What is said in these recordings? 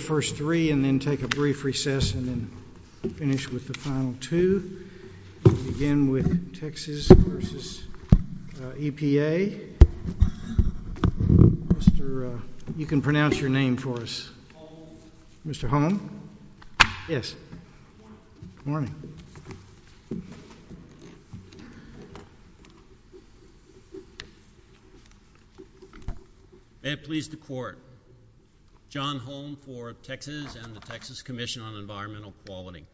First three and then take a brief recess and then finish with the final two. We'll begin with Texas v. EPA. Mr., uh, you can pronounce your name for us. Holmes. Mr. Holmes. Yes. Good morning. Good morning. May it please the court. John Holm for Texas and the Texas Commission on Environmental Quality.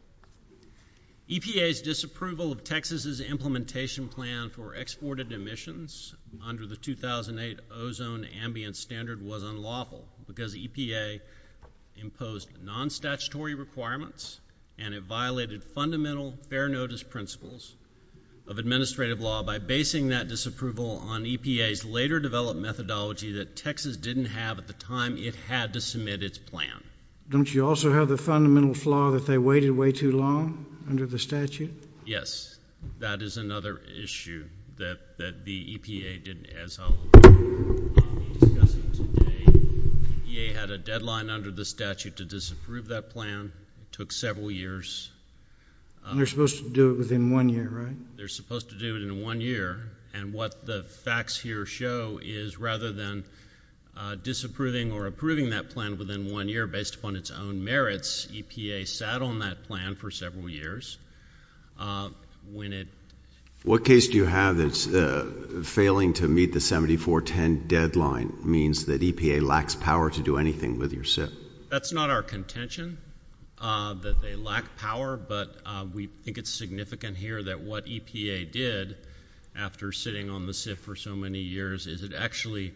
EPA's disapproval of Texas' implementation plan for exported emissions under the 2008 ozone ambient standard was unlawful because EPA imposed non-statutory requirements and it violated fundamental fair notice principles of administrative law by basing that disapproval on EPA's later developed methodology that Texas didn't have at the time it had to submit its plan. Don't you also have the fundamental flaw that they waited way too long under the statute? Yes, that is another issue that the EPA did as I'll be discussing today. EPA had a deadline under the statute to disapprove that plan. It took several years. And they're supposed to do it within one year, right? They're supposed to do it in one year. And what the facts here show is rather than disapproving or approving that plan within one year based upon its own merits, EPA sat on that plan for several years. What case do you have that's failing to meet the 7410 deadline means that EPA lacks power to do anything with your SIF? That's not our contention that they lack power, but we think it's significant here that what EPA did after sitting on the SIF for so many years is it actually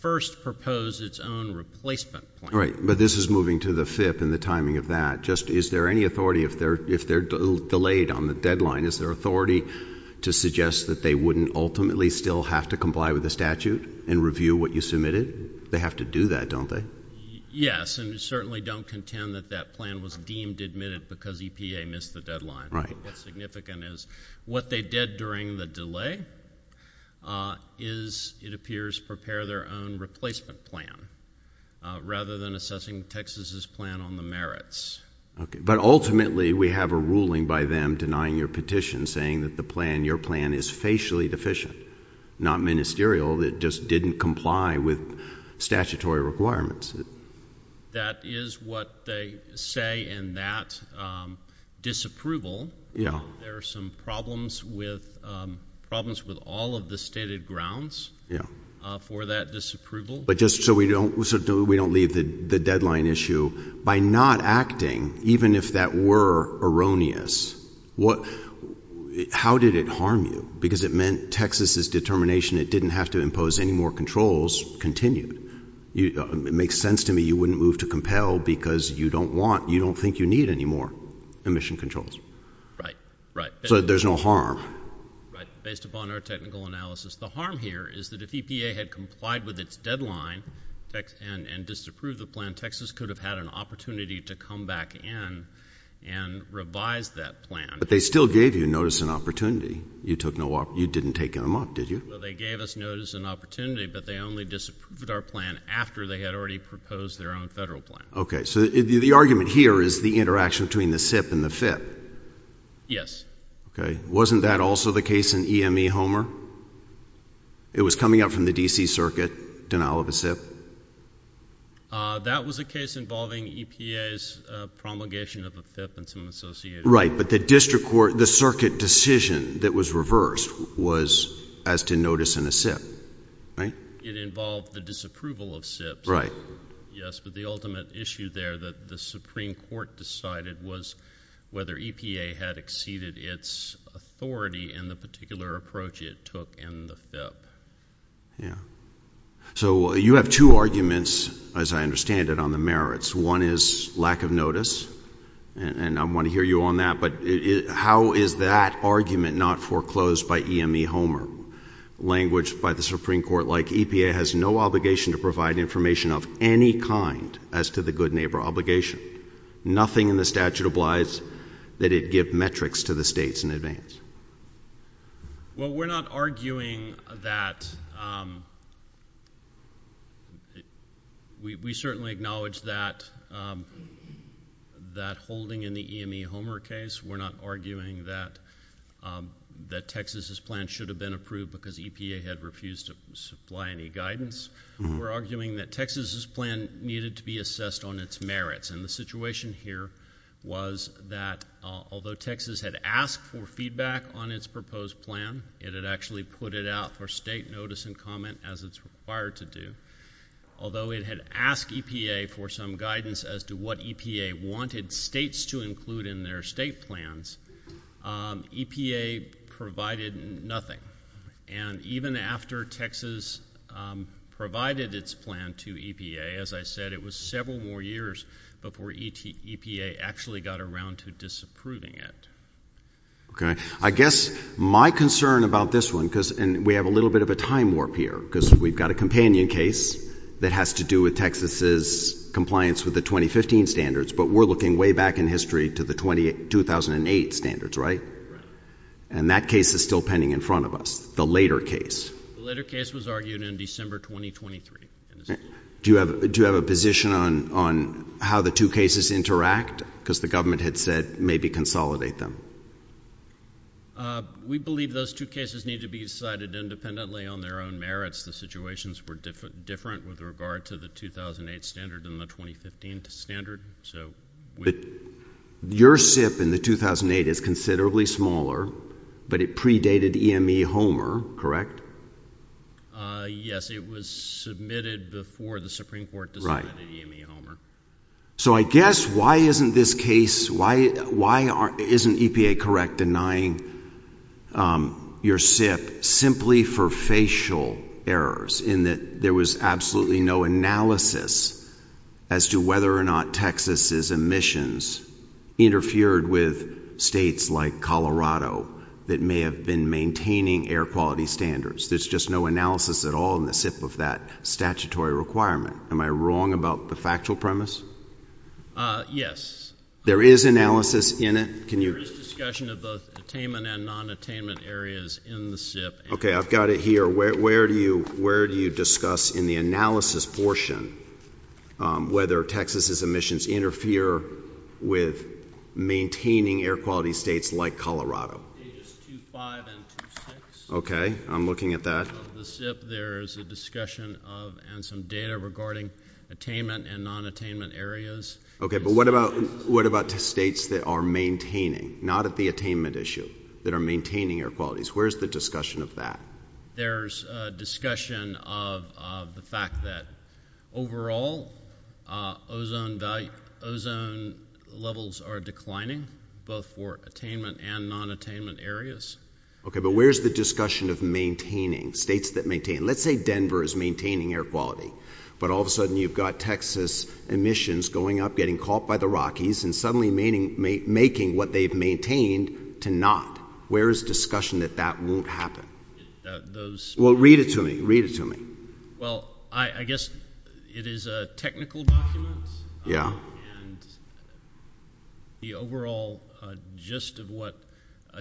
first proposed its own replacement plan. Right. But this is moving to the FIP and the timing of that. Just is there any authority if they're delayed on the deadline, is there authority to suggest that they wouldn't ultimately still have to comply with the statute and review what you submitted? They have to do that, don't they? Yes, and we certainly don't contend that that plan was deemed admitted because EPA missed the deadline. Right. What they did during the delay is it appears prepare their own replacement plan rather than assessing Texas's plan on the merits. Okay. But ultimately we have a ruling by them denying your petition saying that the plan, your plan, is facially deficient, not ministerial. It just didn't comply with statutory requirements. That is what they say in that disapproval. Yeah. There are some problems with all of the stated grounds for that disapproval. But just so we don't leave the deadline issue, by not acting, even if that were erroneous, how did it harm you? Because it meant Texas's determination it didn't have to impose any more controls continued. It makes sense to me you wouldn't move to compel because you don't want, you don't think you need any more emission controls. Right, right. So there's no harm. Right, based upon our technical analysis. The harm here is that if EPA had complied with its deadline and disapproved the plan, Texas could have had an opportunity to come back in and revise that plan. But they still gave you notice and opportunity. You didn't take them up, did you? Well, they gave us notice and opportunity, but they only disapproved our plan after they had already proposed their own federal plan. Okay. So the argument here is the interaction between the SIP and the FIP. Yes. Okay. Wasn't that also the case in EME Homer? It was coming up from the D.C. Circuit, denial of a SIP. That was a case involving EPA's promulgation of a FIP and some associated. Right, but the district court, the circuit decision that was reversed was as to notice in a SIP. Right? It involved the disapproval of SIPs. Right. Yes, but the ultimate issue there that the Supreme Court decided was whether EPA had exceeded its authority in the particular approach it took in the FIP. Yeah. So you have two arguments, as I understand it, on the merits. One is lack of notice, and I want to hear you on that, but how is that argument not foreclosed by EME Homer? Language by the Supreme Court like EPA has no obligation to provide information of any kind as to the good neighbor obligation. Nothing in the statute obliges that it give metrics to the states in advance. Well, we're not arguing that we certainly acknowledge that holding in the EME Homer case, we're not arguing that Texas's plan should have been approved because EPA had refused to supply any guidance. We're arguing that Texas's plan needed to be assessed on its merits, and the situation here was that although Texas had asked for feedback on its proposed plan, it had actually put it out for state notice and comment as it's required to do. Although it had asked EPA for some guidance as to what EPA wanted states to include in their state plans, EPA provided nothing. And even after Texas provided its plan to EPA, as I said, it was several more years before EPA actually got around to disapproving it. Okay. I guess my concern about this one, and we have a little bit of a time warp here because we've got a companion case that has to do with Texas's compliance with the 2015 standards, but we're looking way back in history to the 2008 standards, right? Right. And that case is still pending in front of us, the later case. The later case was argued in December 2023. Do you have a position on how the two cases interact? Because the government had said maybe consolidate them. We believe those two cases need to be decided independently on their own merits. The situations were different with regard to the 2008 standard and the 2015 standard. Your SIP in the 2008 is considerably smaller, but it predated EME Homer, correct? Yes. It was submitted before the Supreme Court decided EME Homer. So I guess why isn't this case, why isn't EPA correct denying your SIP simply for facial errors in that there was absolutely no analysis as to whether or not Texas's emissions interfered with states like Colorado that may have been maintaining air quality standards. There's just no analysis at all in the SIP of that statutory requirement. Am I wrong about the factual premise? Yes. There is analysis in it? There is discussion of both attainment and non-attainment areas in the SIP. Okay. I've got it here. Where do you discuss in the analysis portion whether Texas's emissions interfere with maintaining air quality states like Colorado? Ages 2.5 and 2.6. Okay. I'm looking at that. Of the SIP, there is a discussion of and some data regarding attainment and non-attainment areas. Okay. But what about states that are maintaining, not at the attainment issue, that are maintaining air qualities? Where is the discussion of that? There's discussion of the fact that, overall, ozone levels are declining, both for attainment and non-attainment areas. Okay. But where is the discussion of maintaining, states that maintain? Let's say Denver is maintaining air quality, but all of a sudden you've got Texas emissions going up, getting caught by the Rockies, and suddenly making what they've maintained to not. Where is discussion that that won't happen? Well, read it to me. Read it to me. Well, I guess it is a technical document. Yeah. And the overall gist of what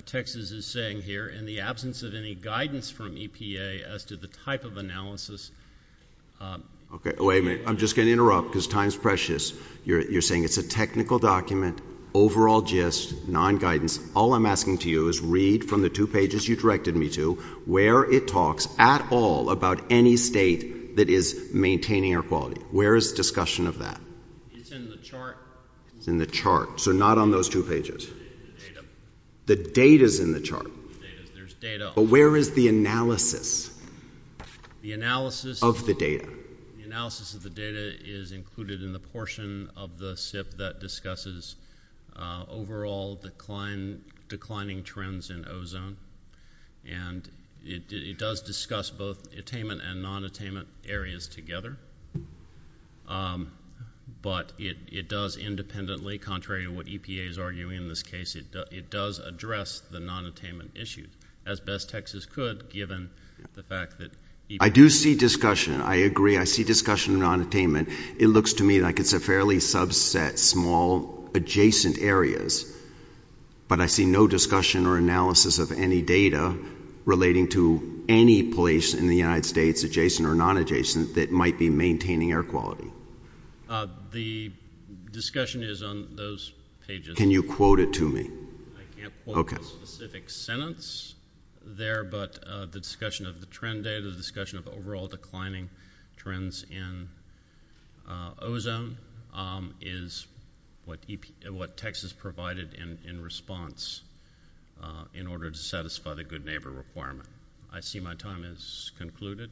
Texas is saying here, in the absence of any guidance from EPA as to the type of analysis. Okay. Wait a minute. I'm just going to interrupt because time is precious. You're saying it's a technical document, overall gist, non-guidance. All I'm asking to you is read from the two pages you directed me to where it talks at all about any state that is maintaining air quality. Where is discussion of that? It's in the chart. It's in the chart. So not on those two pages. The data. The data is in the chart. There's data. But where is the analysis of the data? The analysis of the data is included in the portion of the SIP that discusses overall declining trends in ozone. And it does discuss both attainment and non-attainment areas together. But it does independently, contrary to what EPA is arguing in this case, it does address the non-attainment issue as best Texas could, given the fact that EPA. I do see discussion. I agree. I see discussion of non-attainment. It looks to me like it's a fairly subset, small, adjacent areas. But I see no discussion or analysis of any data relating to any place in the United States, adjacent or non-adjacent, that might be maintaining air quality. The discussion is on those pages. Can you quote it to me? I can't quote a specific sentence there. But the discussion of the trend data, the discussion of overall declining trends in ozone is what Texas provided in response in order to satisfy the good neighbor requirement. I see my time has concluded.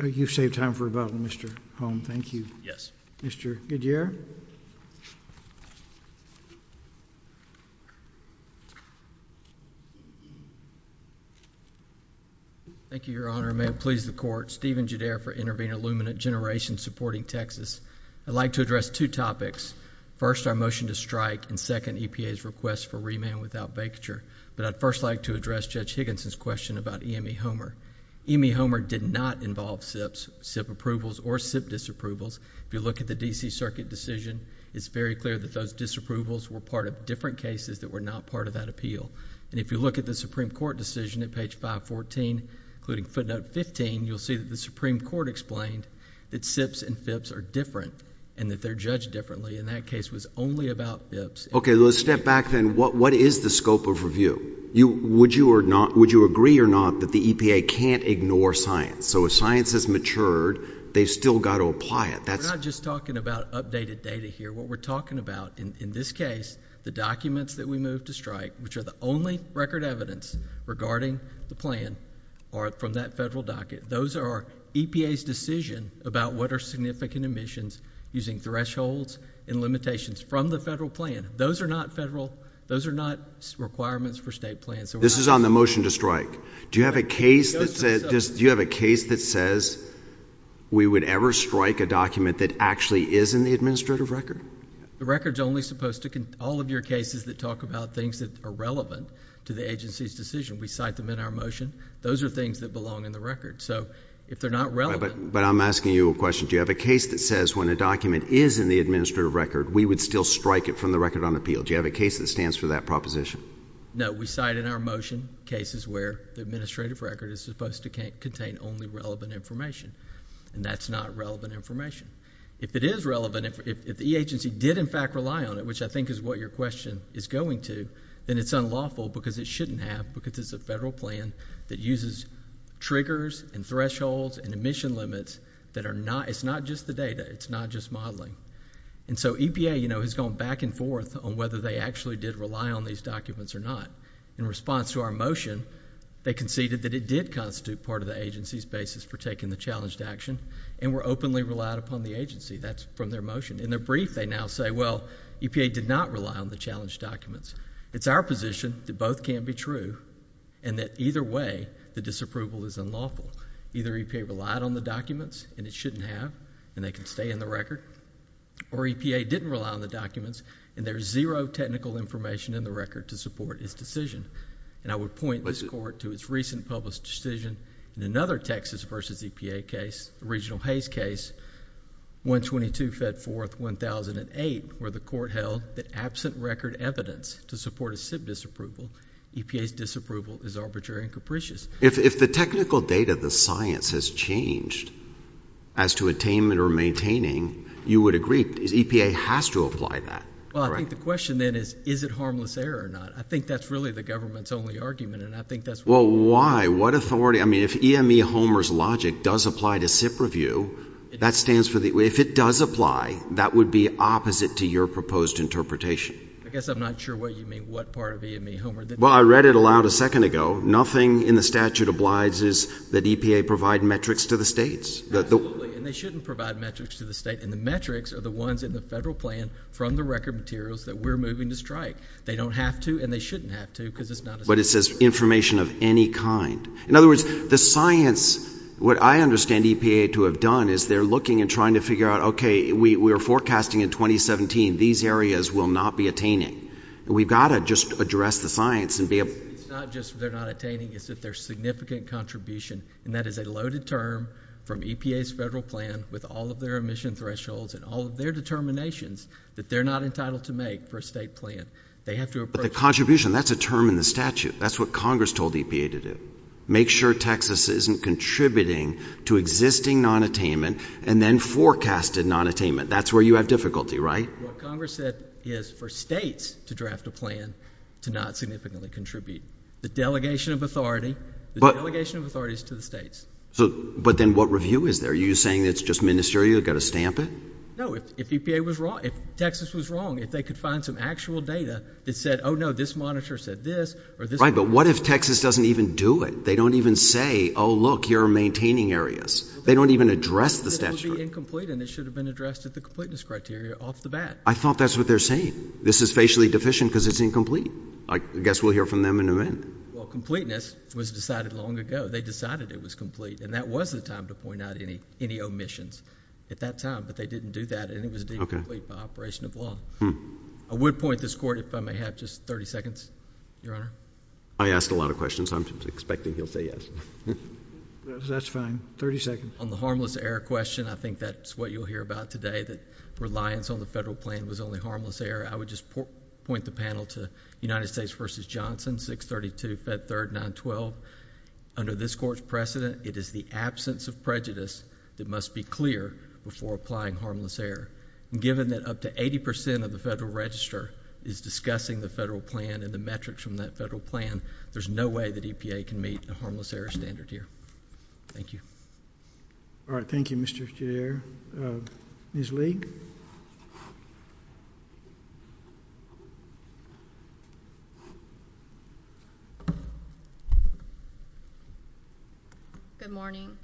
You've saved time for about Mr. Holm. Thank you. Yes. Mr. Goodyear? Thank you, Your Honor. May it please the Court. Stephen Goodear for Intervenor Luminant Generation, supporting Texas. I'd like to address two topics. First, our motion to strike, and second, EPA's request for remand without vacature. But I'd first like to address Judge Higginson's question about EME Homer. EME Homer did not involve SIPs, SIP approvals, or SIP disapprovals. If you look at the D.C. Circuit decision, it's very clear that those disapprovals were part of different cases that were not part of that appeal. And if you look at the Supreme Court decision at page 514, including footnote 15, you'll see that the Supreme Court explained that SIPs and FIPS are different and that they're judged differently. And that case was only about FIPS. Okay. Let's step back then. What is the scope of review? Would you agree or not that the EPA can't ignore science? So if science has matured, they've still got to apply it. We're not just talking about updated data here. What we're talking about in this case, the documents that we moved to strike, which are the only record evidence regarding the plan, are from that federal docket. Those are EPA's decision about what are significant emissions using thresholds and limitations from the federal plan. Those are not federal. Those are not requirements for state plans. This is on the motion to strike. Do you have a case that says we would ever strike a document that actually is in the administrative record? The record is only supposed to contain all of your cases that talk about things that are relevant to the agency's decision. We cite them in our motion. Those are things that belong in the record. But I'm asking you a question. Do you have a case that says when a document is in the administrative record, we would still strike it from the record on appeal? Do you have a case that stands for that proposition? No. We cite in our motion cases where the administrative record is supposed to contain only relevant information, and that's not relevant information. If it is relevant, if the agency did, in fact, rely on it, which I think is what your question is going to, then it's unlawful because it shouldn't have because it's a federal plan that uses triggers and thresholds and emission limits. It's not just the data. It's not just modeling. And so EPA has gone back and forth on whether they actually did rely on these documents or not. In response to our motion, they conceded that it did constitute part of the agency's basis for taking the challenge to action and were openly relied upon the agency. That's from their motion. In their brief, they now say, well, EPA did not rely on the challenge documents. It's our position that both can't be true and that either way, the disapproval is unlawful. Either EPA relied on the documents and it shouldn't have and they can stay in the record, or EPA didn't rely on the documents and there's zero technical information in the record to support its decision. And I would point this Court to its recent published decision in another Texas v. EPA case, 122 Fed 4th, 1008, where the Court held that absent record evidence to support a SIP disapproval, EPA's disapproval is arbitrary and capricious. If the technical data, the science has changed as to attainment or maintaining, you would agree EPA has to apply that. Well, I think the question then is, is it harmless error or not? I think that's really the government's only argument and I think that's why. Well, why? I mean, if EME Homer's logic does apply to SIP review, if it does apply, that would be opposite to your proposed interpretation. I guess I'm not sure what you mean, what part of EME Homer. Well, I read it aloud a second ago. Nothing in the statute obliges that EPA provide metrics to the states. Absolutely. And they shouldn't provide metrics to the states. And the metrics are the ones in the federal plan from the record materials that we're moving to strike. They don't have to and they shouldn't have to because it's not a SIP review. But it says information of any kind. In other words, the science, what I understand EPA to have done is they're looking and trying to figure out, okay, we were forecasting in 2017 these areas will not be attaining. We've got to just address the science and be able to. It's not just they're not attaining, it's that they're significant contribution. And that is a loaded term from EPA's federal plan with all of their emission thresholds and all of their determinations that they're not entitled to make for a state plan. But the contribution, that's a term in the statute. That's what Congress told EPA to do. Make sure Texas isn't contributing to existing nonattainment and then forecasted nonattainment. That's where you have difficulty, right? What Congress said is for states to draft a plan to not significantly contribute. The delegation of authority is to the states. But then what review is there? Are you saying it's just ministerial, you've got to stamp it? No, if EPA was wrong, if Texas was wrong, if they could find some actual data that said, oh, no, this monitor said this or this monitor said that. Right, but what if Texas doesn't even do it? They don't even say, oh, look, you're maintaining areas. They don't even address the statute. It would be incomplete and it should have been addressed at the completeness criteria off the bat. I thought that's what they're saying. This is facially deficient because it's incomplete. I guess we'll hear from them in a minute. Well, completeness was decided long ago. They decided it was complete. And that was the time to point out any omissions at that time. But they didn't do that and it was deemed complete by operation of law. I would point this court, if I may have just 30 seconds, Your Honor. I asked a lot of questions. I'm expecting he'll say yes. That's fine. 30 seconds. On the harmless error question, I think that's what you'll hear about today, that reliance on the federal plan was only harmless error. I would just point the panel to United States v. Johnson, 632, Fed 3rd, 912. Under this court's precedent, it is the absence of prejudice that must be clear before applying harmless error. And given that up to 80% of the federal register is discussing the federal plan and the metrics from that federal plan, there's no way that EPA can meet the harmless error standard here. Thank you. All right. Thank you, Mr. Chair. Ms. Lee? Good morning.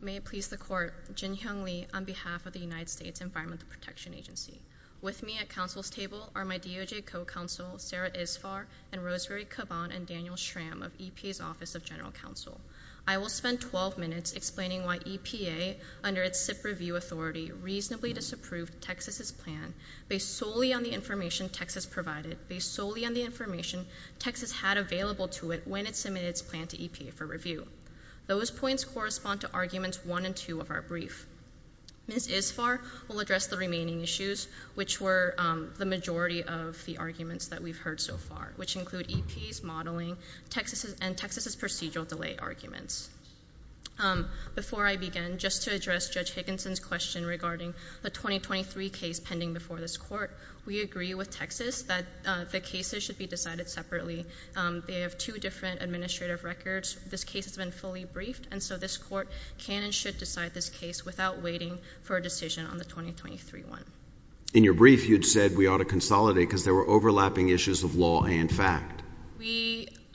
May it please the Court. Jin Hyung Lee on behalf of the United States Environmental Protection Agency. With me at counsel's table are my DOJ co-counsel Sarah Isfar and Rosemary Caban and Daniel Schramm of EPA's Office of General Counsel. I will spend 12 minutes explaining why EPA, under its SIP review authority, reasonably disapproved Texas' plan based solely on the information Texas provided, based solely on the information Texas had available to it when it submitted its plan to EPA for review. Those points correspond to Arguments 1 and 2 of our brief. Ms. Isfar will address the remaining issues, which were the majority of the arguments that we've heard so far, which include EPA's modeling and Texas' procedural delay arguments. Before I begin, just to address Judge Higginson's question regarding the 2023 case pending before this court, we agree with Texas that the cases should be decided separately. They have two different administrative records. This case has been fully briefed, and so this court can and should decide this case without waiting for a decision on the 2023 one. In your brief, you'd said we ought to consolidate because there were overlapping issues of law and fact.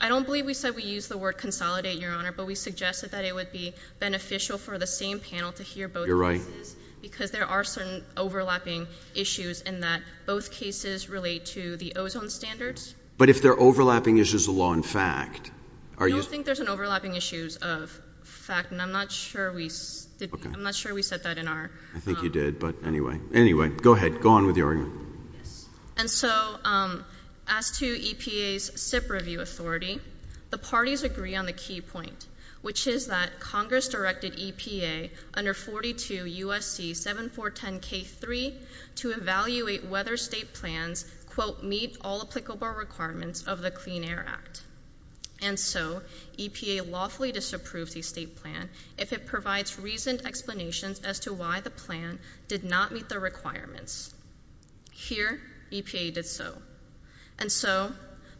I don't believe we said we used the word consolidate, Your Honor, but we suggested that it would be beneficial for the same panel to hear both cases because there are certain overlapping issues in that both cases relate to the ozone standards. But if there are overlapping issues of law and fact, are you— I don't think there's any overlapping issues of fact, and I'm not sure we said that in our— I think you did, but anyway. Anyway, go ahead. Go on with your argument. And so as to EPA's SIP review authority, the parties agree on the key point, which is that Congress directed EPA under 42 U.S.C. 7410K3 to evaluate whether state plans, quote, meet all applicable requirements of the Clean Air Act. And so EPA lawfully disapproves the state plan if it provides reasoned explanations as to why the plan did not meet the requirements. Here, EPA did so. And so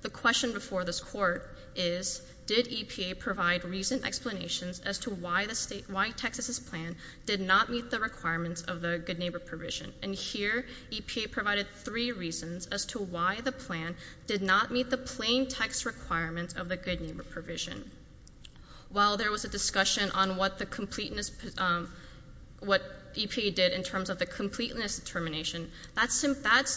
the question before this court is, did EPA provide reasoned explanations as to why Texas' plan did not meet the requirements of the Good Neighbor Provision? And here EPA provided three reasons as to why the plan did not meet the plain text requirements of the Good Neighbor Provision. While there was a discussion on what EPA did in terms of the completeness determination, that's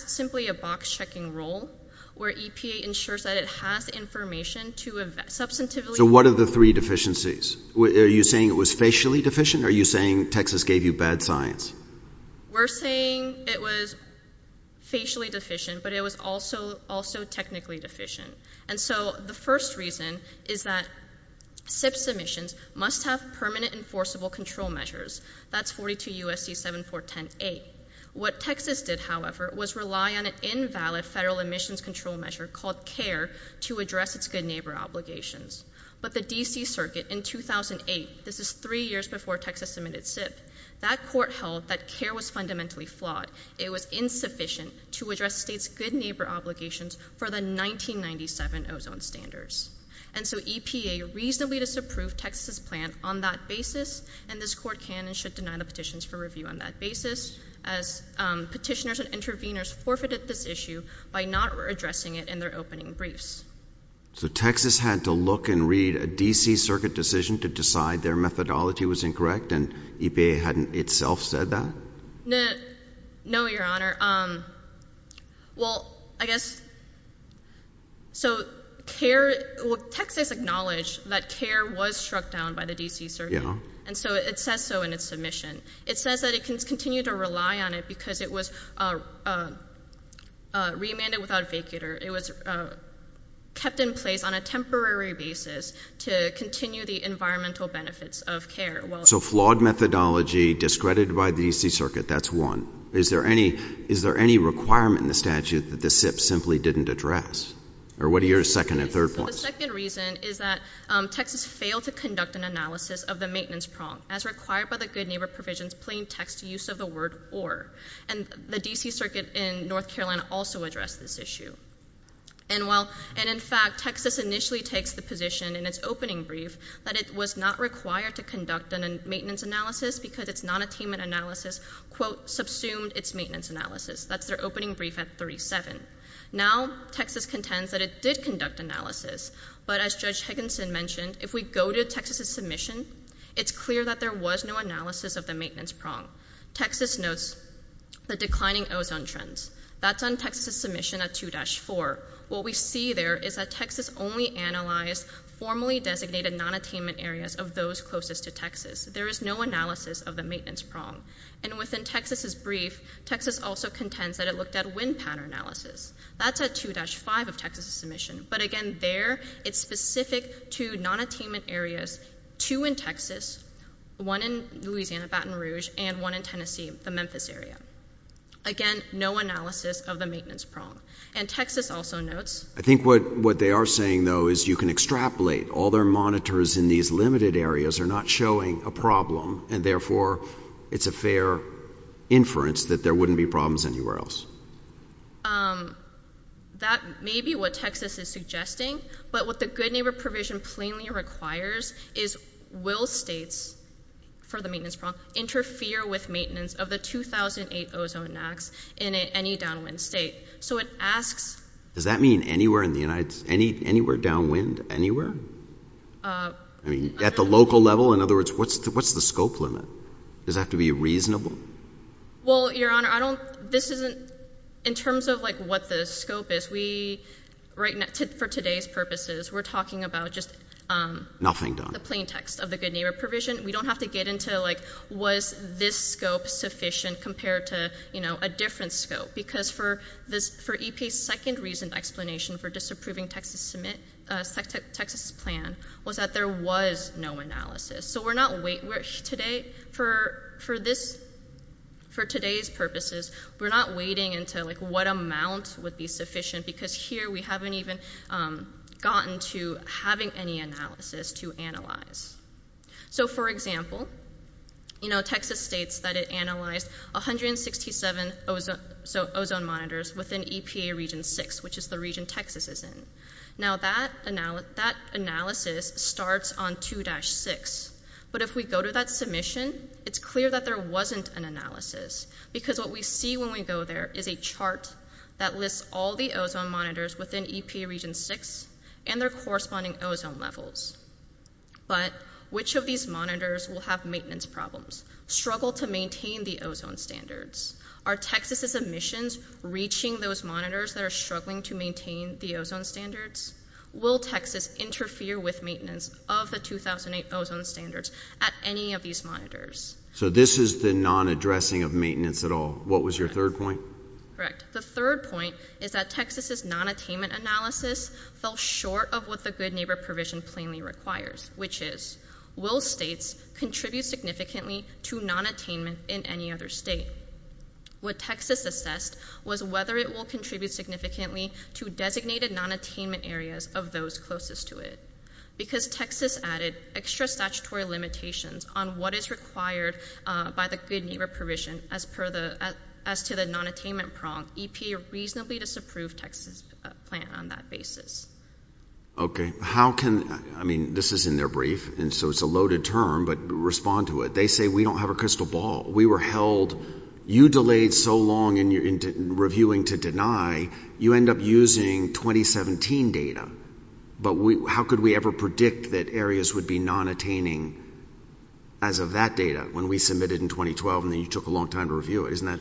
simply a box-checking rule where EPA ensures that it has information to substantively- So what are the three deficiencies? Are you saying it was facially deficient? Are you saying Texas gave you bad science? We're saying it was facially deficient, but it was also technically deficient. And so the first reason is that SIP submissions must have permanent enforceable control measures. That's 42 U.S.C. 7410A. What Texas did, however, was rely on an invalid federal emissions control measure called CARE to address its good neighbor obligations. But the D.C. Circuit in 2008, this is three years before Texas submitted SIP, that court held that CARE was fundamentally flawed. It was insufficient to address states' good neighbor obligations for the 1997 ozone standards. And so EPA reasonably disapproved Texas' plan on that basis, and this court can and should deny the petitions for review on that basis as petitioners and interveners forfeited this issue by not addressing it in their opening briefs. So Texas had to look and read a D.C. Circuit decision to decide their methodology was incorrect, and EPA hadn't itself said that? No, Your Honor. Well, I guess... So Texas acknowledged that CARE was struck down by the D.C. Circuit, and so it says so in its submission. It says that it continued to rely on it because it was remanded without a vacater. It was kept in place on a temporary basis to continue the environmental benefits of CARE. So flawed methodology, discredited by the D.C. Circuit, that's one. Is there any requirement in the statute that the SIP simply didn't address? Or what are your second and third points? The second reason is that Texas failed to conduct an analysis of the maintenance prong as required by the good neighbor provisions plain text use of the word or, and the D.C. Circuit in North Carolina also addressed this issue. And in fact, Texas initially takes the position in its opening brief that it was not required to conduct a maintenance analysis because its nonattainment analysis, quote, subsumed its maintenance analysis. That's their opening brief at 37. Now Texas contends that it did conduct analysis, but as Judge Higginson mentioned, if we go to Texas's submission, it's clear that there was no analysis of the maintenance prong. Texas notes the declining ozone trends. That's on Texas's submission at 2-4. What we see there is that Texas only analyzed formally designated nonattainment areas of those closest to Texas. There is no analysis of the maintenance prong. And within Texas's brief, Texas also contends that it looked at wind pattern analysis. That's at 2-5 of Texas's submission. But again, there it's specific to nonattainment areas, two in Texas, one in Louisiana, Baton Rouge, and one in Tennessee, the Memphis area. Again, no analysis of the maintenance prong. And Texas also notes... I think what they are saying, though, is you can extrapolate. All their monitors in these limited areas are not showing a problem, and therefore it's a fair inference that there wouldn't be problems anywhere else. That may be what Texas is suggesting, but what the Good Neighbor Provision plainly requires is will states, for the maintenance prong, interfere with maintenance of the 2008 ozone acts in any downwind state. So it asks... Does that mean anywhere in the United States? Anywhere downwind? Anywhere? I mean, at the local level? In other words, what's the scope limit? Does that have to be reasonable? Well, Your Honor, I don't... This isn't... In terms of, like, what the scope is, we... For today's purposes, we're talking about just... Nothing done. The plain text of the Good Neighbor Provision. We don't have to get into, like, was this scope sufficient compared to, you know, a different scope? Because for EPA's second recent explanation for disapproving Texas's plan, was that there was no analysis. So we're not wait... Today, for this... For today's purposes, we're not waiting into, like, what amount would be sufficient, because here we haven't even gotten to having any analysis to analyze. So, for example, you know, Texas states that it analyzed 167 ozone monitors within EPA Region 6, which is the region Texas is in. Now, that analysis starts on 2-6. But if we go to that submission, it's clear that there wasn't an analysis, because what we see when we go there is a chart that lists all the ozone monitors within EPA Region 6 and their corresponding ozone levels. But which of these monitors will have maintenance problems, struggle to maintain the ozone standards? Are Texas's emissions reaching those monitors that are struggling to maintain the ozone standards? Will Texas interfere with maintenance of the 2008 ozone standards at any of these monitors? So this is the non-addressing of maintenance at all. What was your third point? Correct. The third point is that Texas's non-attainment analysis fell short of what the good neighbor provision plainly requires, which is, will states contribute significantly to non-attainment in any other state? What Texas assessed was whether it will contribute significantly to designated non-attainment areas of those closest to it. Because Texas added extra statutory limitations on what is required by the good neighbor provision as to the non-attainment prong, EPA reasonably disapproved Texas's plan on that basis. Okay. How can, I mean, this is in their brief, and so it's a loaded term, but respond to it. They say, we don't have a crystal ball. We were held, you delayed so long in reviewing to deny, you end up using 2017 data. But how could we ever predict that areas would be non-attaining as of that data when we submitted in 2012 and then you took a long time to review it? Isn't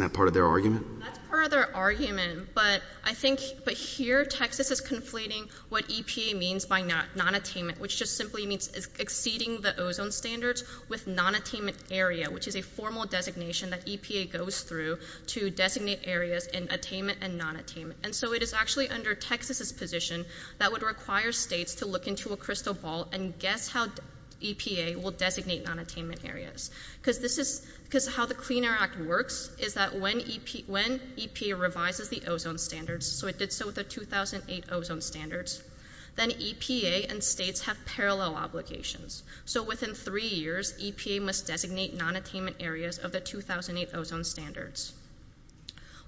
that part of their argument? That's part of their argument, but I think here Texas is conflating what EPA means by non-attainment, which just simply means exceeding the ozone standards with non-attainment area, which is a formal designation that EPA goes through to designate areas in attainment and non-attainment. And so it is actually under Texas's position that would require states to look into a crystal ball and guess how EPA will designate non-attainment areas. Because this is, because how the Clean Air Act works is that when EPA revises the ozone standards, so it did so with the 2008 ozone standards, then EPA and states have parallel obligations. So within three years, EPA must designate non-attainment areas of the 2008 ozone standards.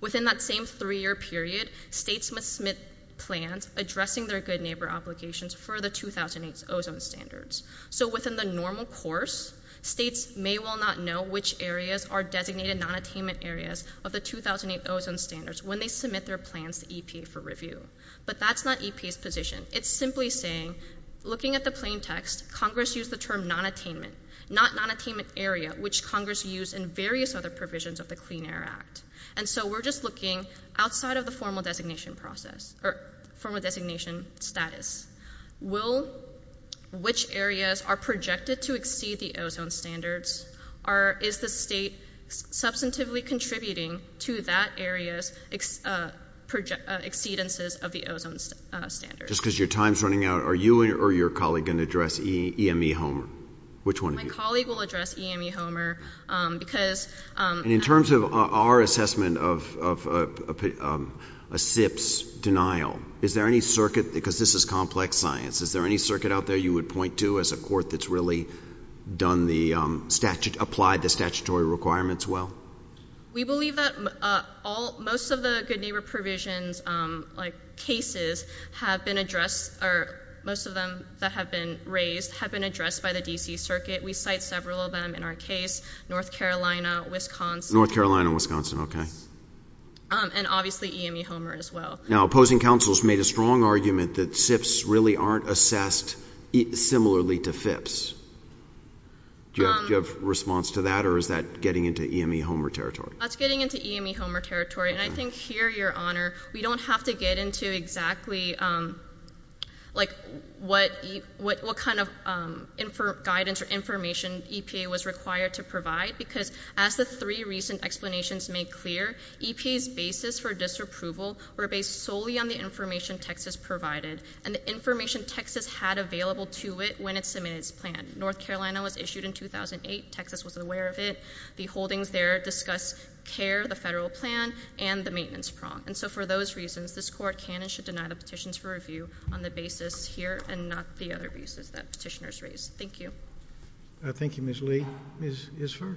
Within that same three-year period, states must submit plans addressing their good neighbor obligations for the 2008 ozone standards. So within the normal course, states may well not know which areas are designated non-attainment areas of the 2008 ozone standards when they submit their plans to EPA for review. But that's not EPA's position. It's simply saying, looking at the plain text, Congress used the term non-attainment, not non-attainment area, which Congress used in various other provisions of the Clean Air Act. And so we're just looking outside of the formal designation process, or formal designation status. Which areas are projected to exceed the ozone standards? Is the state substantively contributing to that area's exceedances of the ozone standards? Just because your time's running out, are you or your colleague going to address EME Homer? Which one of you? My colleague will address EME Homer because... And in terms of our assessment of a SIPS denial, is there any circuit, because this is complex science, is there any circuit out there you would point to as a court that's really applied the statutory requirements well? We believe that most of the good neighbor provisions, like cases, have been addressed, or most of them that have been raised, have been addressed by the D.C. Circuit. We cite several of them in our case, North Carolina, Wisconsin... North Carolina, Wisconsin, okay. And obviously EME Homer as well. Now, opposing counsels made a strong argument that SIPS really aren't assessed similarly to FIPS. Do you have a response to that, or is that getting into EME Homer territory? That's getting into EME Homer territory. And I think here, Your Honor, we don't have to get into exactly what kind of guidance or information EPA was required to provide, because as the three recent explanations make clear, EPA's basis for disapproval were based solely on the information Texas provided and the information Texas had available to it when it submitted its plan. North Carolina was issued in 2008. Texas was aware of it. The holdings there discuss CARE, the federal plan, and the maintenance prong. And so for those reasons, this court can and should deny the petitions for review on the basis here and not the other pieces that petitioners raise. Thank you. Thank you, Ms. Lee. Ms. Isfar?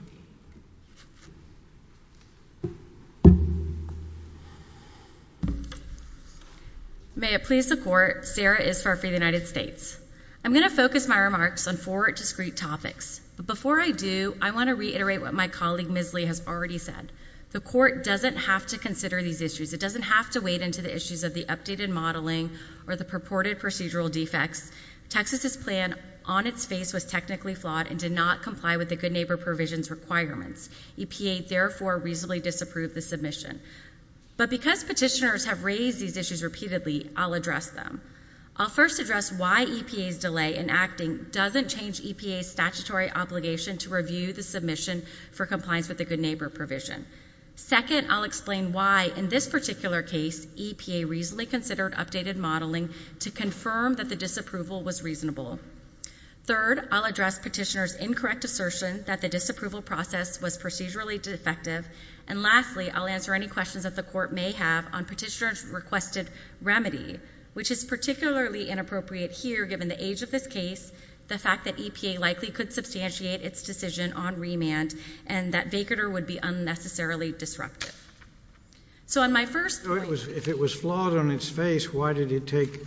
May it please the Court, Sarah Isfar for the United States. I'm going to focus my remarks on four discrete topics. But before I do, I want to reiterate what my colleague, Ms. Lee, has already said. The Court doesn't have to consider these issues. It doesn't have to wade into the issues of the updated modeling or the purported procedural defects. Texas's plan on its face was technically flawed and did not comply with the Good Neighbor provision's requirements. EPA, therefore, reasonably disapproved the submission. But because petitioners have raised these issues repeatedly, I'll address them. I'll first address why EPA's delay in acting doesn't change EPA's statutory obligation to review the submission for compliance with the Good Neighbor provision. Second, I'll explain why, in this particular case, EPA reasonably considered updated modeling to confirm that the disapproval was reasonable. Third, I'll address petitioners' incorrect assertion that the disapproval process was procedurally defective. And lastly, I'll answer any questions that the Court may have on petitioners' requested remedy, which is particularly inappropriate here given the age of this case, the fact that EPA likely could substantiate its decision on remand, and that Vaquerter would be unnecessarily disruptive. So on my first point... If it was flawed on its face, why did it take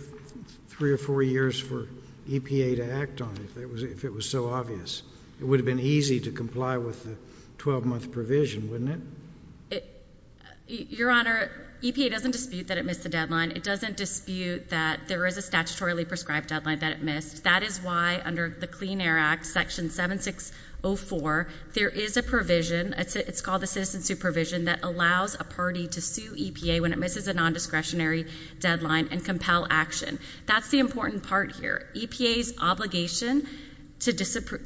3 or 4 years for EPA to act on it, if it was so obvious? It would have been easy to comply with the 12-month provision, wouldn't it? Your Honor, EPA doesn't dispute that it missed the deadline. It doesn't dispute that there is a statutorily prescribed deadline that it missed. That is why, under the Clean Air Act, Section 7604, there is a provision, it's called the citizen supervision, that allows a party to sue EPA when it misses a nondiscretionary deadline and compel action. That's the important part here. EPA's obligation to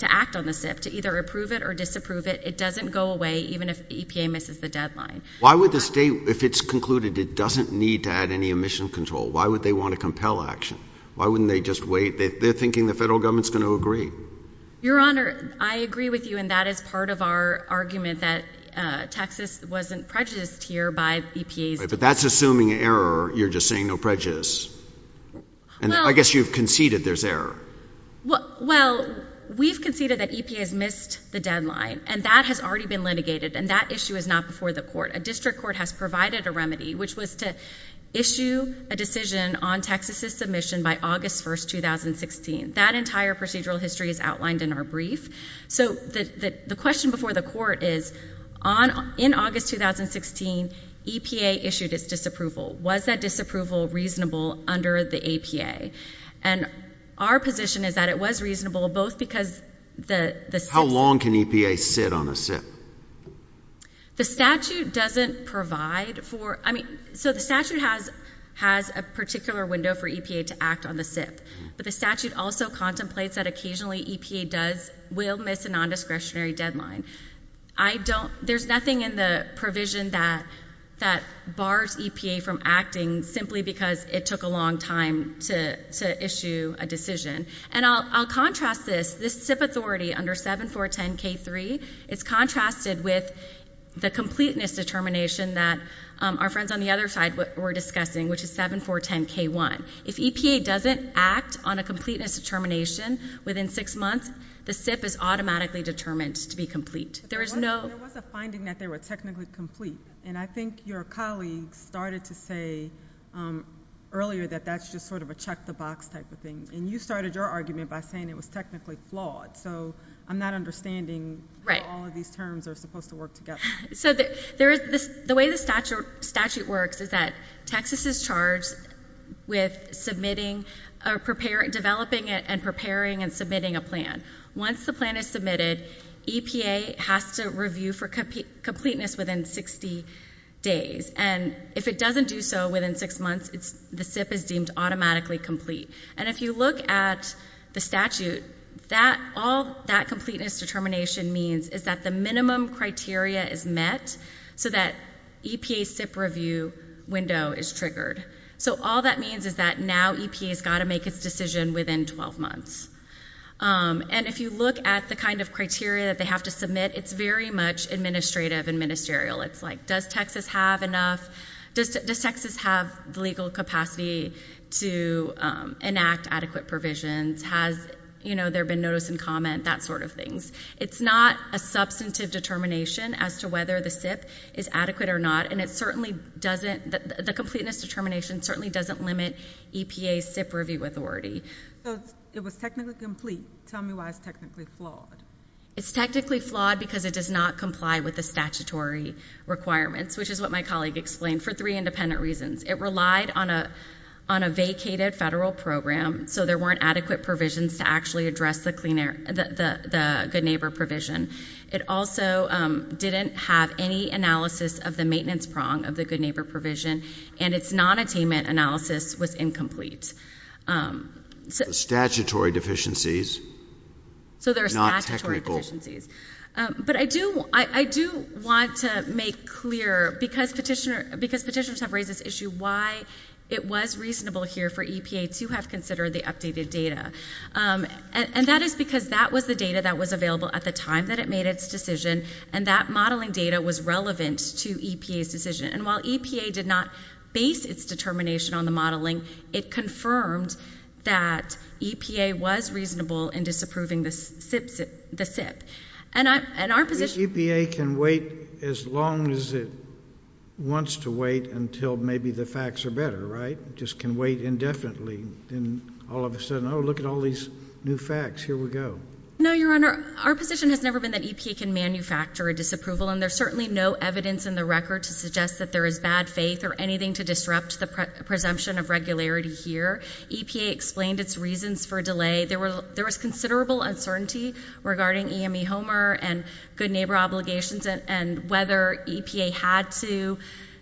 act on the SIP, to either approve it or disapprove it, it doesn't go away even if EPA misses the deadline. Why would the state, if it's concluded it doesn't need to add any emission control, why would they want to compel action? Why wouldn't they just wait? They're thinking the federal government's going to agree. Your Honor, I agree with you, and that is part of our argument that Texas wasn't prejudiced here by EPA's decision. But that's assuming error. You're just saying no prejudice. I guess you've conceded there's error. Well, we've conceded that EPA has missed the deadline, and that has already been litigated, and that issue is not before the court. A district court has provided a remedy, which was to issue a decision on Texas's submission by August 1, 2016. That entire procedural history is outlined in our brief. So the question before the court is, in August 2016, EPA issued its disapproval. Was that disapproval reasonable under the APA? And our position is that it was reasonable, both because the SIP How long can EPA sit on a SIP? The statute doesn't provide for it. So the statute has a particular window for EPA to act on the SIP, but the statute also contemplates that occasionally EPA will miss a nondiscretionary deadline. There's nothing in the provision that bars EPA from acting simply because it took a long time to issue a decision. And I'll contrast this. This SIP authority under 7410K3 is contrasted with the completeness determination that our friends on the other side were discussing, which is 7410K1. If EPA doesn't act on a completeness determination within six months, the SIP is automatically determined to be complete. There was a finding that they were technically complete, and I think your colleague started to say earlier that that's just sort of a check-the-box type of thing, and you started your argument by saying it was technically flawed. So I'm not understanding how all of these terms are supposed to work together. So the way the statute works is that Texas is charged with submitting or developing and preparing and submitting a plan. Once the plan is submitted, EPA has to review for completeness within 60 days. And if it doesn't do so within six months, the SIP is deemed automatically complete. And if you look at the statute, all that completeness determination means is that the minimum criteria is met so that EPA's SIP review window is triggered. So all that means is that now EPA's got to make its decision within 12 months. And if you look at the kind of criteria that they have to submit, it's very much administrative and ministerial. It's like, does Texas have enough? Does Texas have the legal capacity to enact adequate provisions? Has there been notice and comment? That sort of thing. It's not a substantive determination as to whether the SIP is adequate or not, and the completeness determination certainly doesn't limit EPA's SIP review authority. So it was technically complete. Tell me why it's technically flawed. It's technically flawed because it does not comply with the statutory requirements, which is what my colleague explained, for three independent reasons. It relied on a vacated federal program, so there weren't adequate provisions to actually address the good neighbor provision. It also didn't have any analysis of the maintenance prong of the good neighbor provision, and its non-attainment analysis was incomplete. Statutory deficiencies, not technical. So there are statutory deficiencies. But I do want to make clear, because petitioners have raised this issue, why it was reasonable here for EPA to have considered the updated data. And that is because that was the data that was available at the time that it made its decision, and that modeling data was relevant to EPA's decision. And while EPA did not base its determination on the modeling, it confirmed that EPA was reasonable in disapproving the SIP. I guess EPA can wait as long as it wants to wait until maybe the facts are better, right? It just can wait indefinitely, and all of a sudden, oh, look at all these new facts. Here we go. No, Your Honor. Our position has never been that EPA can manufacture a disapproval, and there's certainly no evidence in the record to suggest that there is bad faith or anything to disrupt the presumption of regularity here. EPA explained its reasons for delay. There was considerable uncertainty regarding EME Homer and good neighbor obligations and whether EPA had to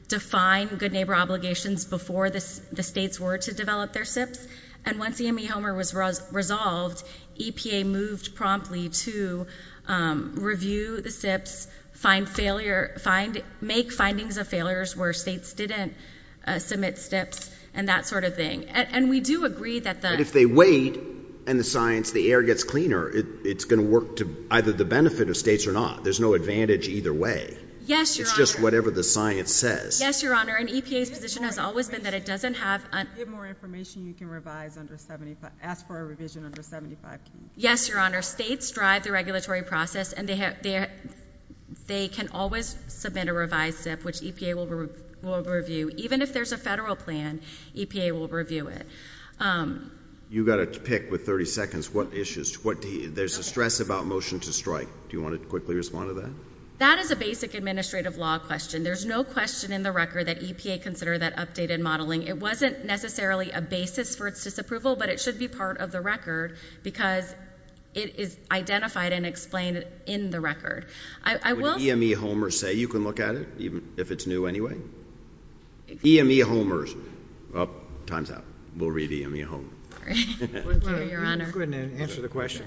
define good neighbor obligations before the states were to develop their SIPs. And once EME Homer was resolved, EPA moved promptly to review the SIPs, make findings of failures where states didn't submit SIPs, and that sort of thing. But if they wait and the science, the air gets cleaner, it's going to work to either the benefit of states or not. There's no advantage either way. It's just whatever the science says. Yes, Your Honor. And EPA's position has always been that it doesn't have— Give more information. You can revise under 75. Ask for a revision under 75. Yes, Your Honor. States drive the regulatory process, and they can always submit a revised SIP, which EPA will review. Even if there's a federal plan, EPA will review it. You got a pick with 30 seconds. What issues? There's a stress about motion to strike. Do you want to quickly respond to that? That is a basic administrative law question. There's no question in the record that EPA consider that updated modeling. It wasn't necessarily a basis for its disapproval, but it should be part of the record because it is identified and explained in the record. Would EME Homer say you can look at it, even if it's new anyway? EME Homer. Time's up. We'll read EME Homer. Go ahead and answer the question.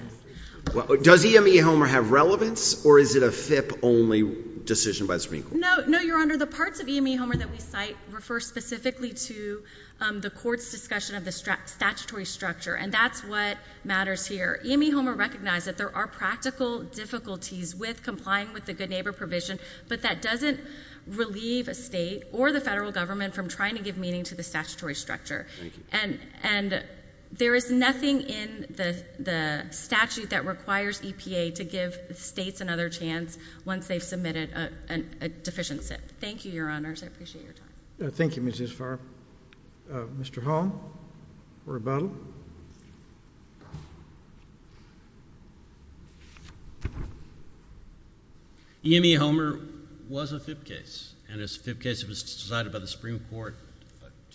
Does EME Homer have relevance, or is it a FIP-only decision by the Supreme Court? No, Your Honor. The parts of EME Homer that we cite refer specifically to the court's discussion of the statutory structure, and that's what matters here. EME Homer recognized that there are practical difficulties with complying with the good neighbor provision, but that doesn't relieve a state or the federal government from trying to give meaning to the statutory structure. And there is nothing in the statute that requires EPA to give states another chance once they've submitted a deficient SIP. Thank you, Your Honors. I appreciate your time. Thank you, Mrs. Farr. Mr. Hall for rebuttal. EME Homer was a FIP case, and it was a FIP case that was decided by the Supreme Court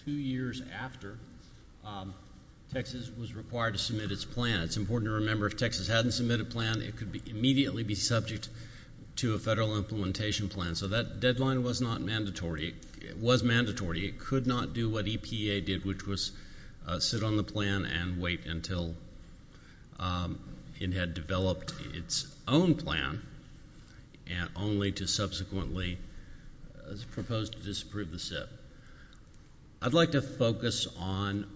two years after Texas was required to submit its plan. It's important to remember if Texas hadn't submitted a plan, it could immediately be subject to a federal implementation plan. So that deadline was not mandatory. It was mandatory. It could not do what EPA did, which was sit on the plan and wait until it had developed its own plan, and only to subsequently propose to disapprove the SIP. I'd like to focus on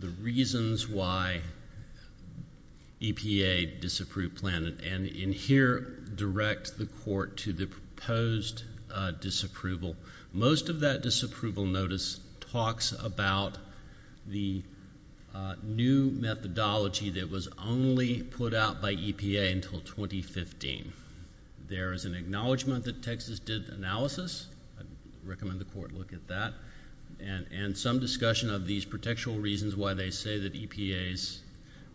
the reasons why EPA disapproved the plan, and in here direct the court to the proposed disapproval. Most of that disapproval notice talks about the new methodology that was only put out by EPA until 2015. There is an acknowledgment that Texas did analysis. I'd recommend the court look at that, and some discussion of these contextual reasons why they say that EPA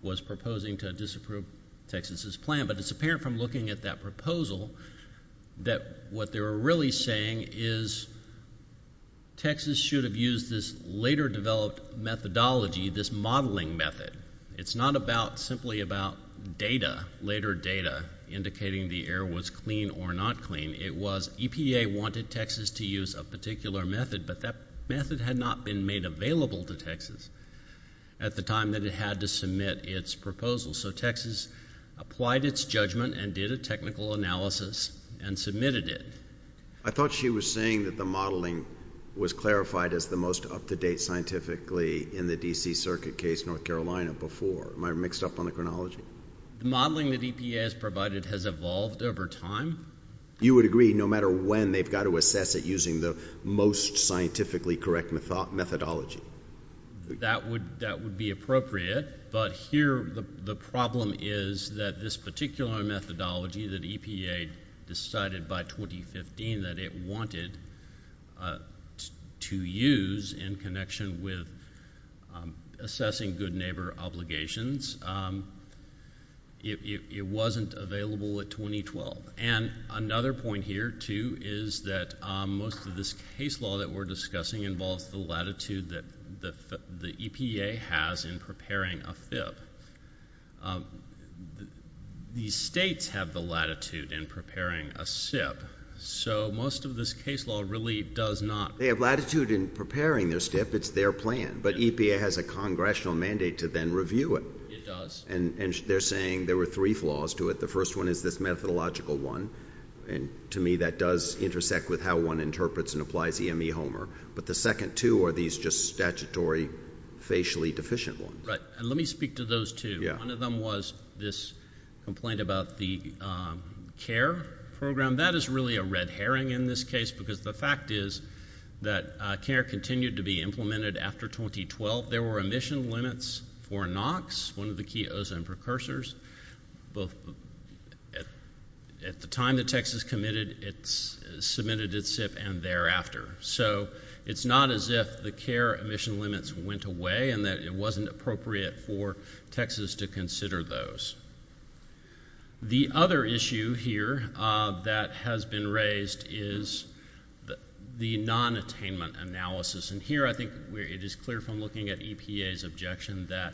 was proposing to disapprove Texas' plan. But it's apparent from looking at that proposal that what they were really saying is Texas should have used this later developed methodology, this modeling method. It's not about simply about data, later data indicating the air was clean or not clean. It was EPA wanted Texas to use a particular method, but that method had not been made available to Texas at the time that it had to submit its proposal. So Texas applied its judgment and did a technical analysis and submitted it. I thought she was saying that the modeling was clarified as the most up-to-date scientifically in the D.C. Circuit case, North Carolina, before. Am I mixed up on the chronology? The modeling that EPA has provided has evolved over time. You would agree no matter when they've got to assess it using the most scientifically correct methodology? That would be appropriate. But here the problem is that this particular methodology that EPA decided by 2015 that it wanted to use in connection with assessing good neighbor obligations, it wasn't available at 2012. And another point here, too, is that most of this case law that we're discussing involves the latitude that the EPA has in preparing a FIP. These states have the latitude in preparing a SIP, so most of this case law really does not. They have latitude in preparing their SIP. It's their plan. But EPA has a congressional mandate to then review it. It does. And they're saying there were three flaws to it. The first one is this methodological one. And to me that does intersect with how one interprets and applies EME Homer. But the second two are these just statutory facially deficient ones. Right. And let me speak to those two. One of them was this complaint about the CARE program. That is really a red herring in this case because the fact is that CARE continued to be implemented after 2012. There were emission limits for NOx, one of the key ozone precursors. At the time that Texas submitted its SIP and thereafter. So it's not as if the CARE emission limits went away and that it wasn't appropriate for Texas to consider those. The other issue here that has been raised is the non-attainment analysis. And here I think it is clear from looking at EPA's objection that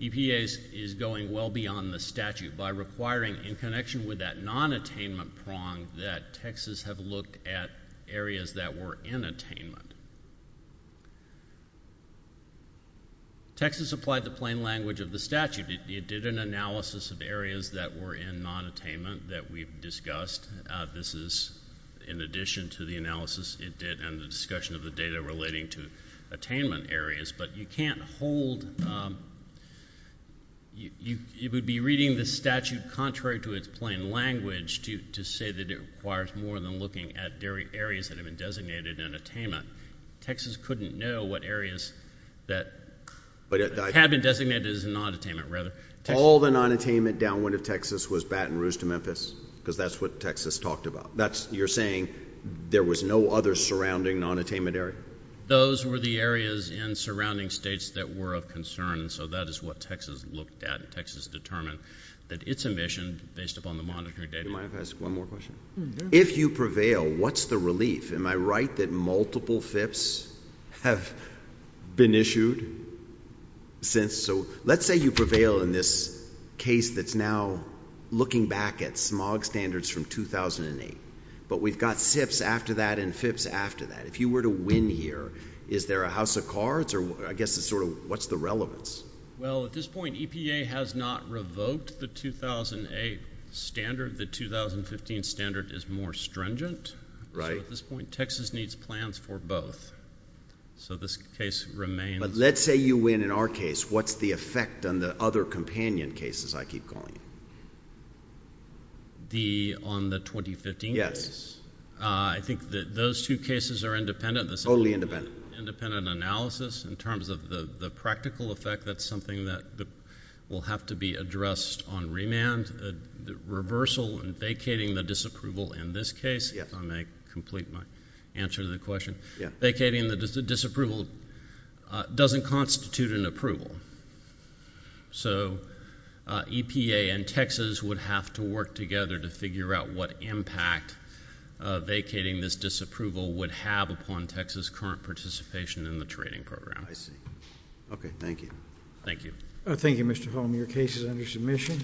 EPA is going well beyond the statute by requiring in connection with that non-attainment prong that Texas have looked at areas that were in attainment. Texas applied the plain language of the statute. It did an analysis of areas that were in non-attainment that we've discussed. This is in addition to the analysis it did and the discussion of the data relating to attainment areas. But you can't hold. You would be reading the statute contrary to its plain language to say that it requires more than looking at areas that have been designated in attainment. Texas couldn't know what areas that had been designated as non-attainment rather. All the non-attainment downwind of Texas was Baton Rouge to Memphis because that's what Texas talked about. You're saying there was no other surrounding non-attainment area? Those were the areas in surrounding states that were of concern. So that is what Texas looked at. Texas determined that its emission based upon the monitoring data. If you prevail, what's the relief? Am I right that multiple FIPs have been issued since? So let's say you prevail in this case that's now looking back at smog standards from 2008. But we've got SIPs after that and FIPs after that. If you were to win here, is there a house of cards? I guess it's sort of what's the relevance? Well, at this point, EPA has not revoked the 2008 standard. The 2015 standard is more stringent. So at this point, Texas needs plans for both. So this case remains. But let's say you win in our case. What's the effect on the other companion cases I keep calling? On the 2015 case? I think those two cases are independent. Totally independent. Independent analysis in terms of the practical effect. That's something that will have to be addressed on remand. Reversal and vacating the disapproval in this case, if I may complete my answer to the question. Vacating the disapproval doesn't constitute an approval. So EPA and Texas would have to work together to figure out what impact vacating this disapproval would have upon Texas' current participation in the trading program. I see. Okay. Thank you. Thank you. Thank you, Mr. Holm. Your case is under submission.